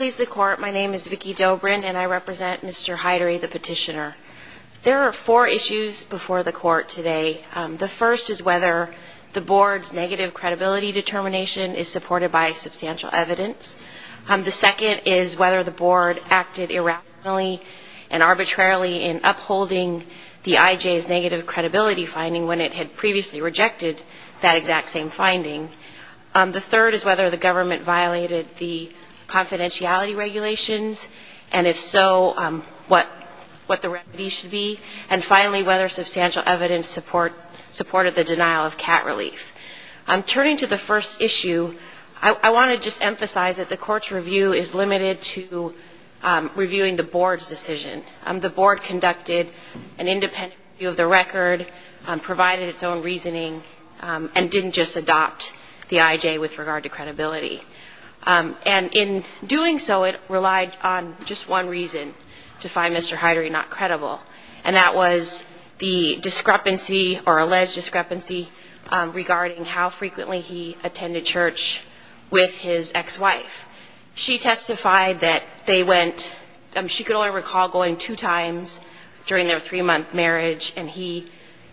Please the court. My name is Vicki Dobrin and I represent Mr. Haidery, the petitioner. There are four issues before the court today. The first is whether the board's negative credibility determination is supported by substantial evidence. The second is whether the board acted irrationally and arbitrarily in upholding the IJ's negative credibility finding when it had previously rejected that exact same finding. The third is whether the regulations and if so, what the remedy should be. And finally, whether substantial evidence supported the denial of cat relief. Turning to the first issue, I want to just emphasize that the court's review is limited to reviewing the board's decision. The board conducted an independent review of the record, provided its own reasoning, and didn't just adopt the IJ with regard to credibility. And in doing so, it relied on just one reason to find Mr. Haidery not credible. And that was the discrepancy or alleged discrepancy regarding how frequently he attended church with his ex-wife. She testified that they went, she could only recall going two times during their three-month marriage and he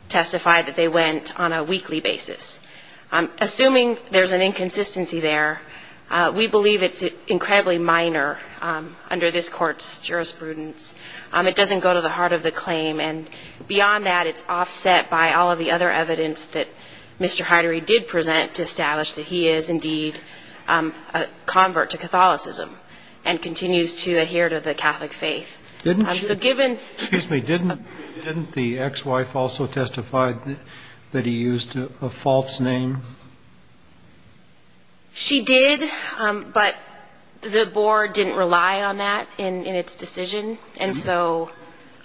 testified that they went on a weekly basis. Assuming there's an inconsistency there, we believe it's incredibly minor under this court's jurisprudence. It doesn't go to the heart of the claim. And beyond that, it's offset by all of the other evidence that Mr. Haidery did present to establish that he is, indeed, a convert to Catholicism and continues to adhere to the Catholic faith. Didn't she? So given Excuse me. Didn't the ex-wife also testify that he used a false name? She did, but the board didn't rely on that in its decision. And so,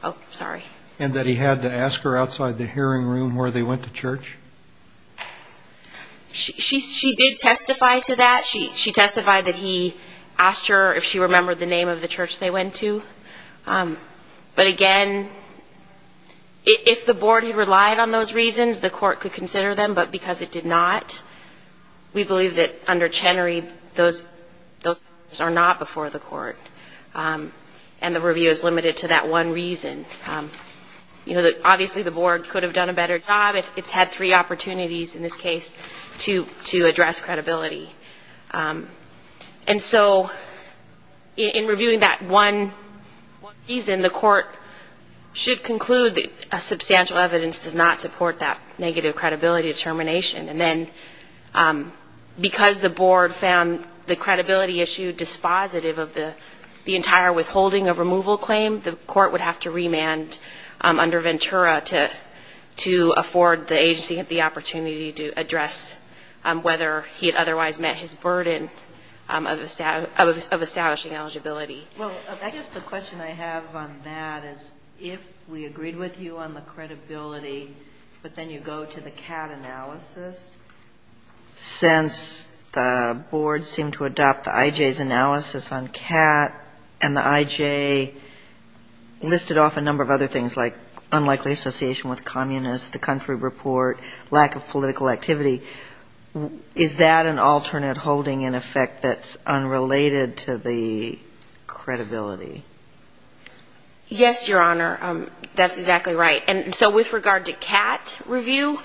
oh, sorry. And that he had to ask her outside the hearing room where they went to church? She did testify to that. She testified that he asked her if she remembered the name of the church they went to. But again, if the board had relied on those reasons, the court could consider them. But because it did not, we believe that under Chenery, those are not before the court. And the review is limited to that one reason. Obviously, the board could have done a better job. It's had three opportunities in this case to address credibility. And so, in reviewing that one reason, the court should conclude that substantial evidence does not support that negative credibility determination. And then, because the board found the credibility issue dispositive of the entire withholding of removal claim, the court would have to remand under Ventura to afford the agency the opportunity to address whether he had otherwise met his burden of establishing eligibility. Well, I guess the question I have on that is if we agreed with you on the credibility, but then you go to the CAT analysis. Since the board seemed to adopt the IJ's analysis on CAT and the IJ listed off a number of other things like unlikely association with communists, the country report, lack of political activity, is that an alternate holding, in effect, that's credibility? Yes, Your Honor. That's exactly right. And so, with regard to CAT review,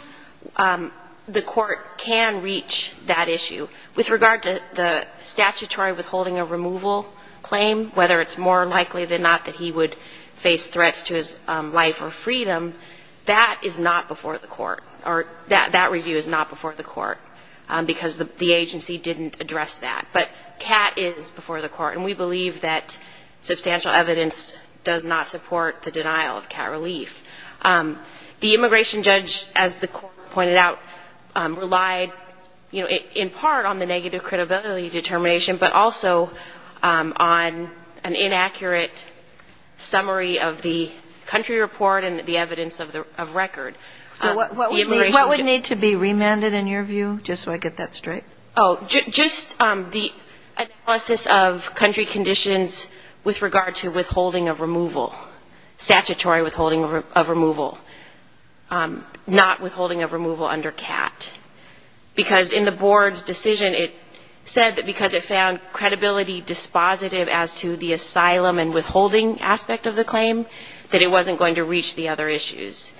the court can reach that issue. With regard to the statutory withholding of removal claim, whether it's more likely than not that he would face threats to his life or freedom, that is not before the court, or that review is not before the court, because the agency didn't address that. But CAT is before the court, and we believe that substantial evidence does not support the denial of CAT relief. The immigration judge, as the court pointed out, relied, in part, on the negative credibility determination, but also on an inaccurate summary of the country report and the evidence of record. So what would need to be remanded, in your view, just so I get that straight? Oh, just the analysis of country conditions with regard to withholding of removal, statutory withholding of removal, not withholding of removal under CAT, because in the board's decision it said that because it found credibility dispositive as to the asylum and withholding aspect of the claim, that it wasn't going to reach the other issues.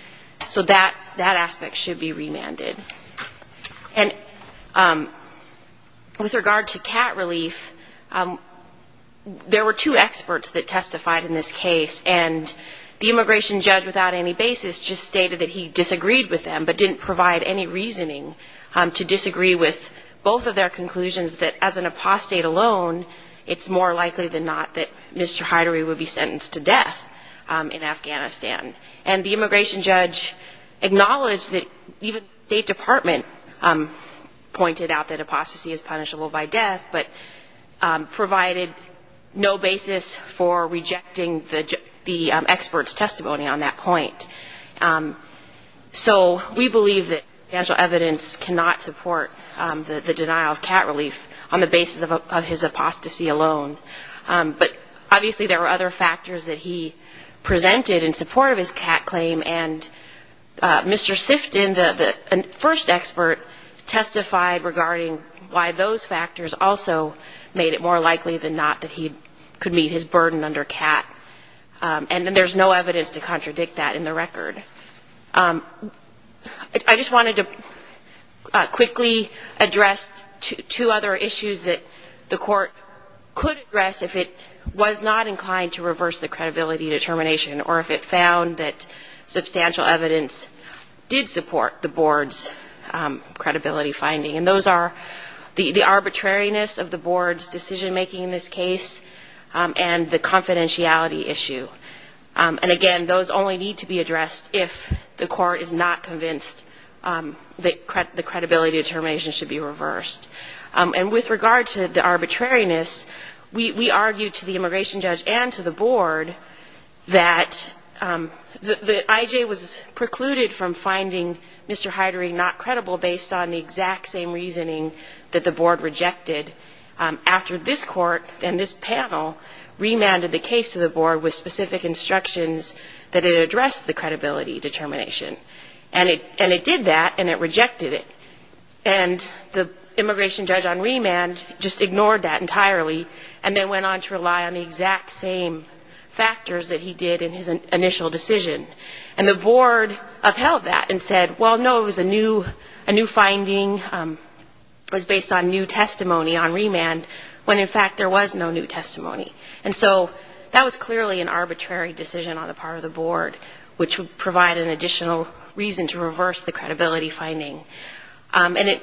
So that aspect should be remanded. And with regard to CAT relief, there were two experts that testified in this case, and the immigration judge, without any basis, just stated that he disagreed with them, but didn't provide any reasoning to disagree with both of their conclusions, that as an apostate alone, it's more likely than not that Mr. Hyderi would be sentenced to death in Afghanistan. And the immigration judge acknowledged that even the State Department pointed out that apostasy is punishable by death, but provided no basis for rejecting the expert's testimony on that point. So we believe that financial evidence cannot support the denial of CAT relief on the basis of his apostasy alone. But obviously there were other factors that he presented in support of his CAT claim, and Mr. Sifton, the first expert, testified regarding why those factors also made it more likely than not that he could meet his burden under CAT. And there's no evidence to contradict that in the record. I just wanted to quickly address two other issues that the Court could address if it was not inclined to reverse the credibility determination, or if it found that substantial evidence did support the Board's credibility finding. And those are the arbitrariness of the Board's decision-making in this case, and the confidentiality issue. And again, those only need to be addressed if the Court is not convinced that the credibility determination should be reversed. And with regard to the arbitrariness, we argued to the immigration judge and to the Board that the I.J. was precluded from finding Mr. Hyderi not credible based on the exact same reasoning that the Board rejected after this Court and this panel remanded the case to the Board with specific instructions that it addressed the credibility determination. And it did that, and it rejected it. And the immigration judge on remand just ignored that entirely and then went on to rely on the exact same factors that he did in his initial decision. And the Board upheld that and said, well, no, it was a new finding, was based on new testimony. And so that was clearly an arbitrary decision on the part of the Board, which would provide an additional reason to reverse the credibility finding. And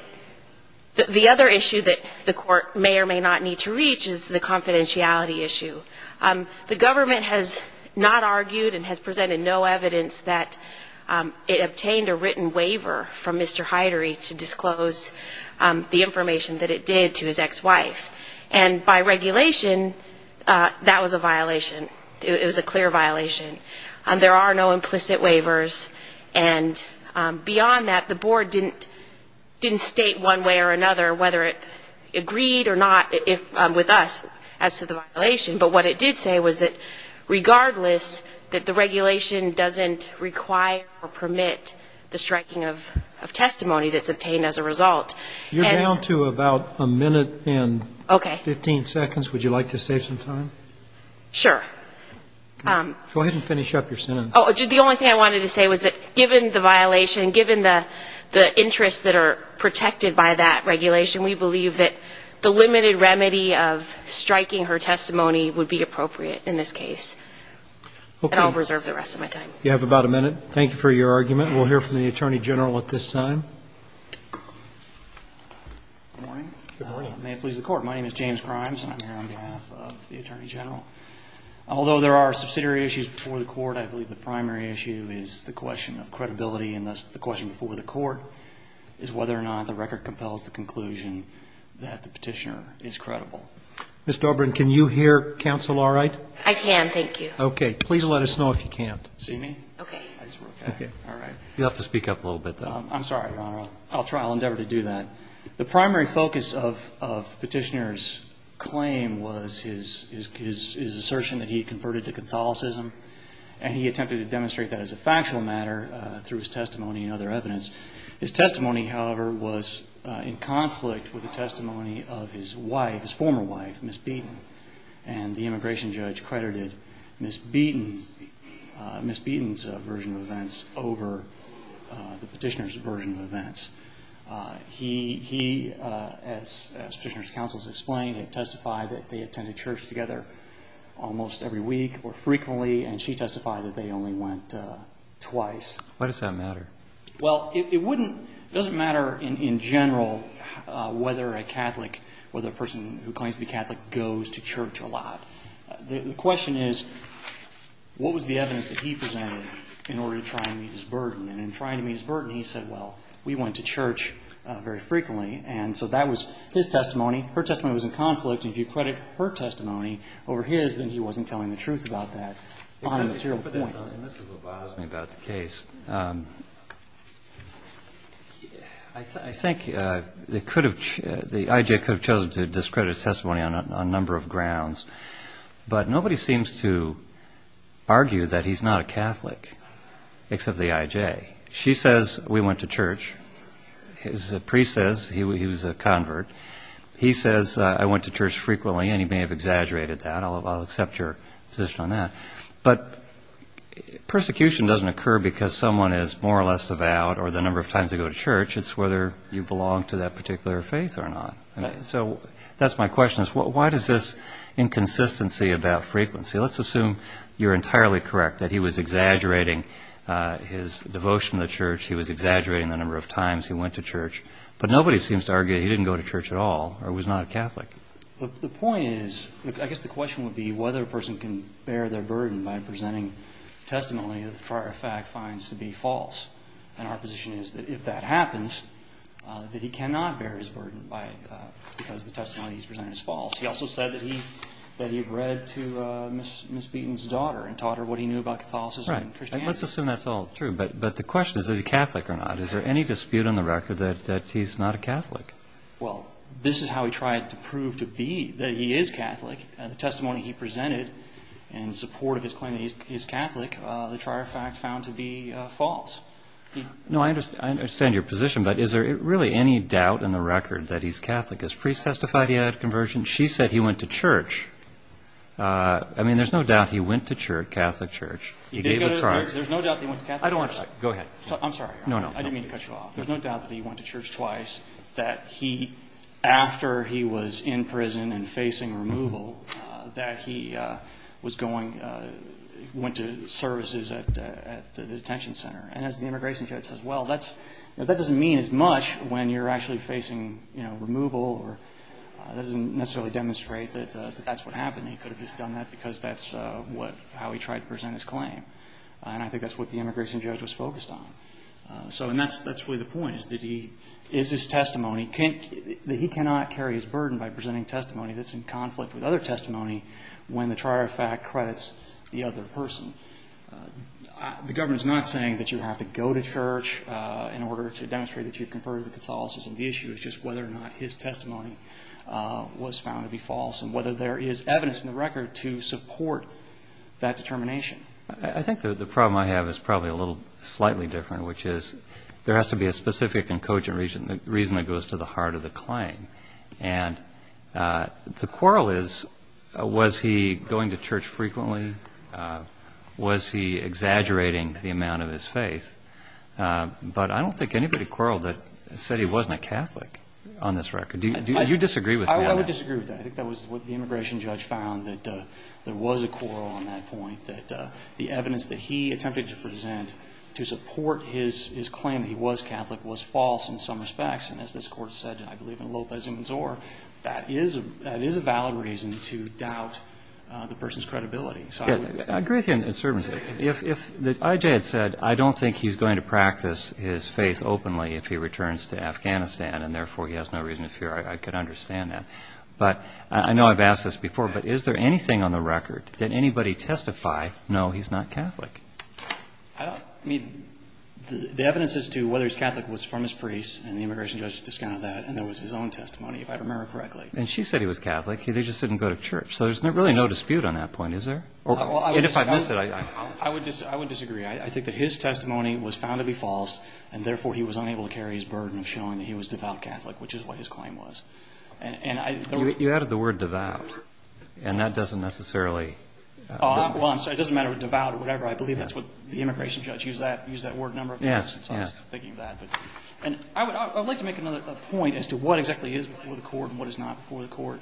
the other issue that the Court may or may not need to reach is the confidentiality issue. The government has not argued and has presented no evidence that it obtained a written waiver from Mr. Hyderi to disclose the information that it did to his ex-wife. And by regulation, that was a violation. It was a clear violation. There are no implicit waivers. And beyond that, the Board didn't state one way or another whether it agreed or not with us as to the violation. But what it did say was that regardless that the regulation doesn't require or permit the striking of testimony that's obtained as a result. You're down to about a minute and 15 seconds. Would you like to save some time? Sure. Go ahead and finish up your sentence. The only thing I wanted to say was that given the violation, given the interests that are protected by that regulation, we believe that the limited remedy of striking her testimony would be appropriate in this case. And I'll reserve the rest of my time. You have about a minute. Thank you for your argument. We'll hear from the Attorney General at this time. Good morning. May it please the Court. My name is James Grimes, and I'm here on behalf of the Attorney General. Although there are subsidiary issues before the Court, I believe the primary issue is the question of credibility, and thus the question before the Court is whether or not the record compels the conclusion that the petitioner is credible. Ms. Dobryn, can you hear counsel all right? I can, thank you. Okay. Please let us know if you can't. See me? Okay. I just wrote that. Okay. All right. You'll have to speak up a little bit, though. I'm sorry, Your Honor. I'll try. I'll endeavor to do that. The primary focus of the petitioner's claim was his assertion that he had converted to Catholicism, and he attempted to demonstrate that as a factual matter through his testimony and other evidence. His testimony, however, was in conflict with the testimony of his wife, his former wife, Ms. Beaton. And the petitioner's version of events. He, as Petitioner's counsel has explained, had testified that they attended church together almost every week or frequently, and she testified that they only went twice. Why does that matter? Well, it wouldn't — it doesn't matter in general whether a Catholic, whether a person who claims to be Catholic goes to church a lot. The question is, what was the evidence that he presented in order to try and meet his burden? And in trying to meet his burden, he said, well, we went to church very frequently. And so that was his testimony. Her testimony was in conflict. And if you credit her testimony over his, then he wasn't telling the truth about that on a material point. And this is what bothers me about the case. I think they could have — the IJ could have chosen to discredit his testimony on a number of grounds. But nobody seems to argue that he's not a Catholic except the IJ. She says, we went to church. His priest says, he was a convert. He says, I went to church frequently, and he may have exaggerated that. I'll accept your position on that. But persecution doesn't occur because someone is more or less devout or the number of times they go to church. It's whether you belong to that particular faith or not. So that's my question is, why does this inconsistency about frequency? Let's assume you're entirely correct that he was exaggerating his devotion to the church. He was exaggerating the number of times he went to church. But nobody seems to argue that he didn't go to church at all or was not a Catholic. The point is — I guess the question would be whether a person can bear their burden by presenting testimony that the prior fact finds to be false. And our position is that if that happens, that he cannot bear his burden because the testimony he's presented is false. He also said that he read to Miss Beaton's daughter and taught her what he knew about Catholicism and Christianity. Let's assume that's all true. But the question is, is he Catholic or not? Is there any dispute on the record that he's not a Catholic? Well, this is how he tried to prove that he is Catholic. The testimony he presented in support of his claim that he's Catholic, the prior fact found to be false. I understand your position, but is there really any doubt in the record that he's Catholic? I think his priest testified he had a conversion. She said he went to church. I mean, there's no doubt he went to church, Catholic church. You did go to — there's no doubt that he went to Catholic church? I don't want to — go ahead. I'm sorry. No, no. I didn't mean to cut you off. There's no doubt that he went to church twice, that he — after he was in prison and facing removal, that he was going — went to services at the detention center. And as the immigration judge says, well, that's — that doesn't mean as much when you're actually facing, you know, removal or — that doesn't necessarily demonstrate that that's what happened. He could have just done that because that's what — how he tried to present his claim. And I think that's what the immigration judge was focused on. So — and that's really the point, is that he — is his testimony — that he cannot carry his burden by presenting testimony that's in conflict with other testimony when the prior fact credits the other person. The government is not saying that you have to go to church in order to demonstrate that you've converted to Catholicism. The issue is just whether or not his testimony was found to be false and whether there is evidence in the record to support that determination. I think the problem I have is probably a little slightly different, which is there has to be a specific and cogent reason that goes to the heart of the claim. And the quarrel is, was he going to church frequently? Was he exaggerating the amount of his faith? But I don't think anybody quarreled that — said he wasn't a Catholic on this record. Do you disagree with that? I would disagree with that. I think that was what the immigration judge found, that there was a quarrel on that point, that the evidence that he attempted to present to support his — his claim that he was Catholic was false in some respects. And as this Court has said, I believe, in Lopez and Mazur, that is a — that is a valid reason to doubt the person's credibility. I agree with you in a certain sense. If — if the I.J. had said, I don't think he's going to practice his faith openly if he returns to Afghanistan, and therefore he has no reason to fear, I could understand that. But I know I've asked this before, but is there anything on the record, did anybody testify, no, he's not Catholic? I don't — I mean, the evidence as to whether he's Catholic was from his priest, and the immigration judge discounted that, and that was his own testimony, if I remember correctly. And she said he was Catholic. They just didn't go to church. So there's really no dispute on that point, is there? And if I miss it, I — Well, I would — I would disagree. I think that his testimony was found to be false, and therefore he was unable to carry his burden of showing that he was devout Catholic, which is what his claim was. And I — You added the word devout, and that doesn't necessarily — Well, I'm sorry, it doesn't matter what devout or whatever. I believe that's what — the immigration judge used that — used that word a number of times since I was thinking of that. But — and I would — I would like to make another — a point as to what exactly is before the Court and what is not before the Court.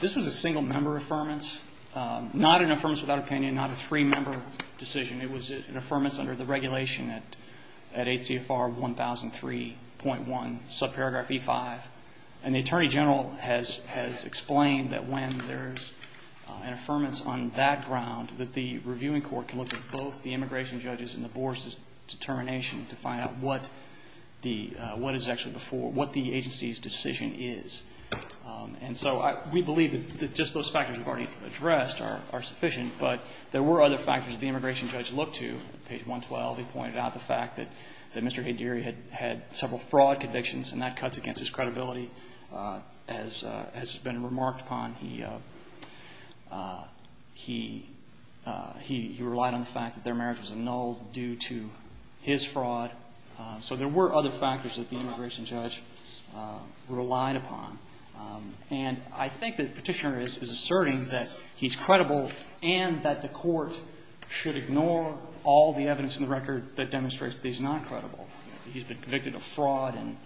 This was a single-member affirmance, not an affirmance without opinion, not a three-member decision. It was an affirmance under the regulation at — at ACFR 1003.1, subparagraph E5. And the Attorney General has — has explained that when there's an affirmance on that ground that the reviewing court can look at both the immigration judge's and the board's determination to find out what the — what is actually before — what the agency's decision is. And so I — we believe that just those factors we've already addressed are — are sufficient. But there were other factors the immigration judge looked to. On page 112, he pointed out the fact that — that Mr. Hadiri had — had several fraud convictions, and that cuts against his credibility. As — as has been remarked upon, he — he — he relied on the fact that their marriage was annulled due to his fraud. So there were other factors that the immigration judge relied upon. And I think the Petitioner is — is asserting that he's credible and that the Court should ignore all the evidence in the record that demonstrates that he's not credible. He's been convicted of fraud in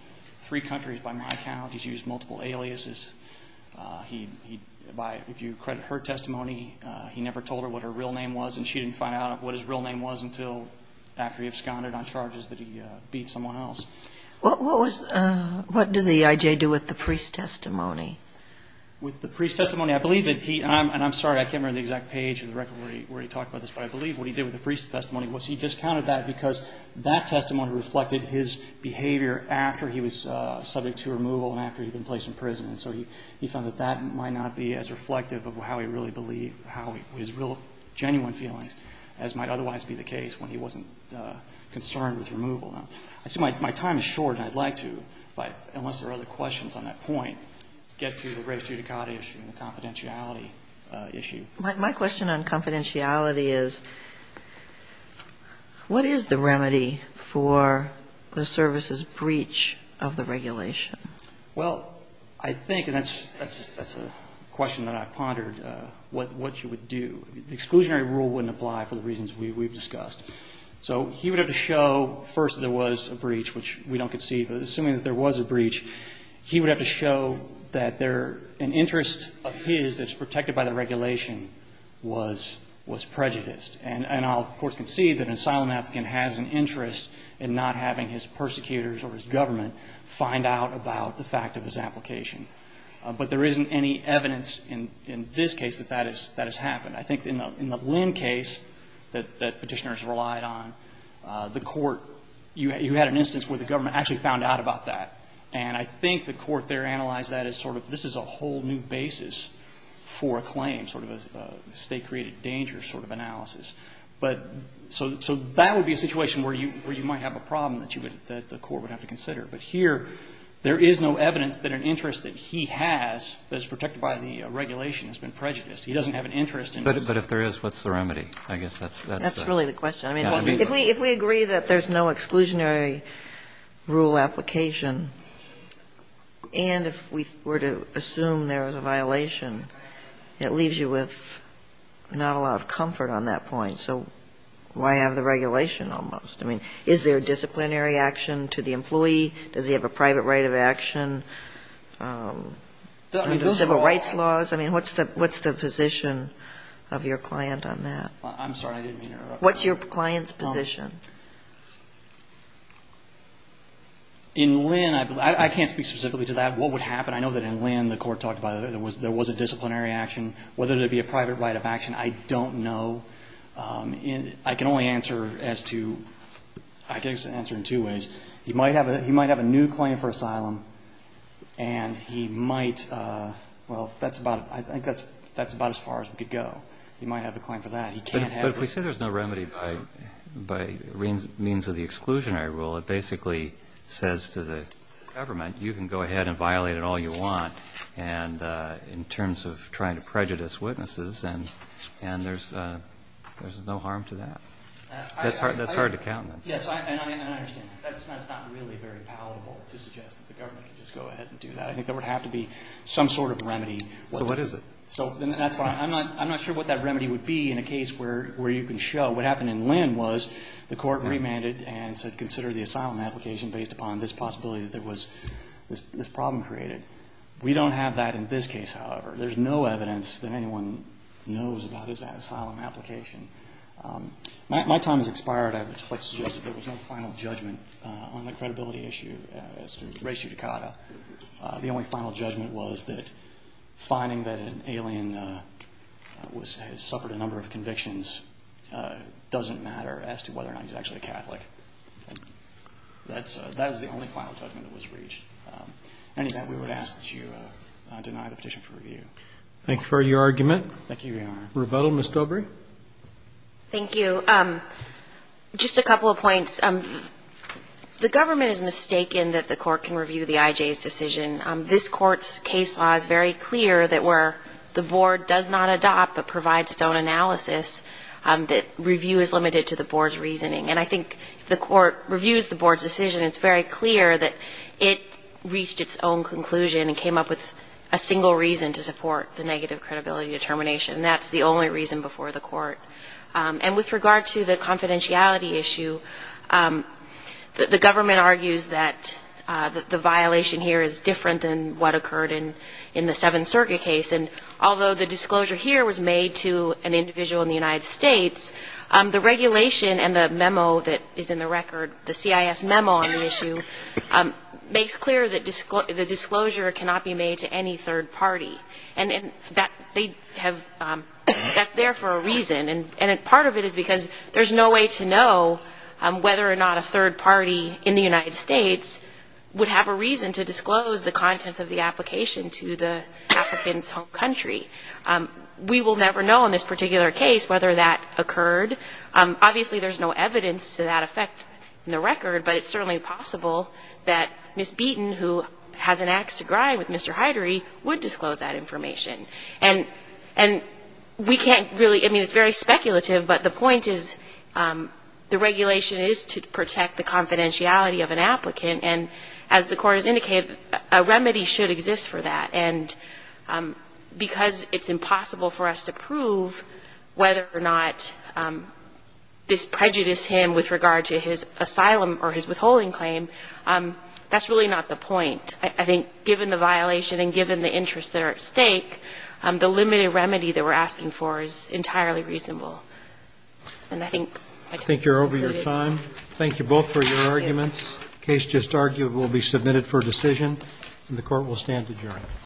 three countries, by my count. He's used multiple aliases. He — he — by — if you credit her testimony, he never told her what her real name was, and she didn't find out what his real name was until after he absconded on charges that he beat someone else. What was — what did the I.J. do with the priest's testimony? With the priest's testimony, I believe that he — and I'm — and I'm sorry, I can't remember the exact page in the record where he — where he talked about this, but I believe what he did with the priest's testimony was he discounted that because that testimony reflected his behavior after he was subject to removal and after he'd been placed in prison. And so he — he found that that might not be as reflective of how he really believed — how his real, genuine feelings, as might otherwise be the case when he wasn't concerned with removal. Now, I see my time is short, and I'd like to, if I — unless there are other questions on that point, get to the res judicata issue and the confidentiality issue. My question on confidentiality is, what is the remedy for the service's breach of the regulation? Well, I think, and that's — that's a question that I've pondered, what you would do. The exclusionary rule wouldn't apply for the reasons we've discussed. So he would have to show, first, that there was a breach, which we don't concede, but assuming that there was a breach, he would have to show that there — an interest of his that's protected by the regulation was — was prejudiced. And I'll, of course, concede that an asylum applicant has an interest in not having his persecutors or his government find out about the fact of his application. But there isn't any evidence in — in this case that that is — that has happened. I think in the — in the Lynn case that — that Petitioners relied on, the court — you had an instance where the government actually found out about that. And I think the court there analyzed that as sort of, this is a whole new basis for a claim, sort of a state-created danger sort of analysis. But — so — so that would be a situation where you — where you might have a problem that you would — that the court would have to consider. But here, there is no evidence that an interest that he has that is protected by the regulation has been prejudiced. He doesn't have an interest in — But — but if there is, what's the remedy? I guess that's — that's the — That's really the question. I mean, if we — if we agree that there's no exclusionary rule application, and if we were to assume there was a violation, it leaves you with not a lot of comfort on that point. So why have the regulation almost? I mean, is there disciplinary action to the employee? Does he have a private right of action under civil rights laws? I mean, what's the — what's the position of your client on that? I'm sorry. I didn't mean to interrupt. What's your client's position? In Lynn, I — I can't speak specifically to that. What would happen? I know that in Lynn, the court talked about it. There was — there was a disciplinary action. Whether there would be a private right of action, I don't know. I can only answer as to — I can answer in two ways. He might have a — he might have a new claim for asylum, and he might — well, that's about — I think that's about as far as we could go. He might have a claim for that. He can't have it. But if we say there's no remedy by means of the exclusionary rule, it basically says to the government, you can go ahead and violate it all you want, and — in terms of trying to prejudice witnesses, and there's — there's no harm to that. That's hard to count. Yes, and I understand. That's not really very palatable to suggest that the government can just go ahead and do that. I think there would have to be some sort of remedy. So what is it? So that's why — I'm not — I'm not sure what that remedy would be in a case where you can show. What happened in Lynn was the court remanded and said consider the asylum application based upon this possibility that there was — this problem created. We don't have that in this case, however. There's no evidence that anyone knows about his asylum application. My time has expired. I would like to suggest that there was no final judgment on the credibility issue as to ratio decada. The only final judgment was that finding that an alien was — has suffered a number of convictions doesn't matter as to whether or not he's actually a Catholic. And that's — that is the only final judgment that was reached. Any that, we would ask that you deny the petition for review. Thank you for your argument. Thank you, Your Honor. Rebuttal, Ms. Dobry? Thank you. I think — just a couple of points. The government has mistaken that the court can review the IJ's decision. This court's case law is very clear that where the board does not adopt but provides its own analysis, that review is limited to the board's reasoning. And I think if the court reviews the board's decision, it's very clear that it reached its own conclusion and came up with a single reason to support the negative credibility determination. That's the only reason before the court. And with regard to the confidentiality issue, the government argues that the violation here is different than what occurred in the Seventh Circuit case. And although the disclosure here was made to an individual in the United States, the regulation and the memo that is in the record, the CIS memo on the issue, makes clear that the disclosure cannot be made to any third party. And they have — that's there for a reason. And part of it is because there's no way to know whether or not a third party in the United States would have a reason to disclose the contents of the application to the African country. We will never know in this particular case whether that occurred. Obviously, there's no evidence to that effect in the record, but it's certainly possible that Ms. Beaton, who has an ax to grind with Mr. Hydery, would disclose that information. And we can't really — I mean, it's very speculative, but the point is the regulation is to protect the confidentiality of an applicant. And as the court has indicated, a remedy should exist for that. And because it's impossible for us to prove whether or not this prejudiced him with regard to his asylum or his withholding claim, that's really not the point. I think given the violation and given the interests that are at stake, the limited remedy that we're asking for is entirely reasonable. And I think — I think you're over your time. Thank you both for your arguments. The case just argued will be submitted for decision, and the Court will stand adjourned.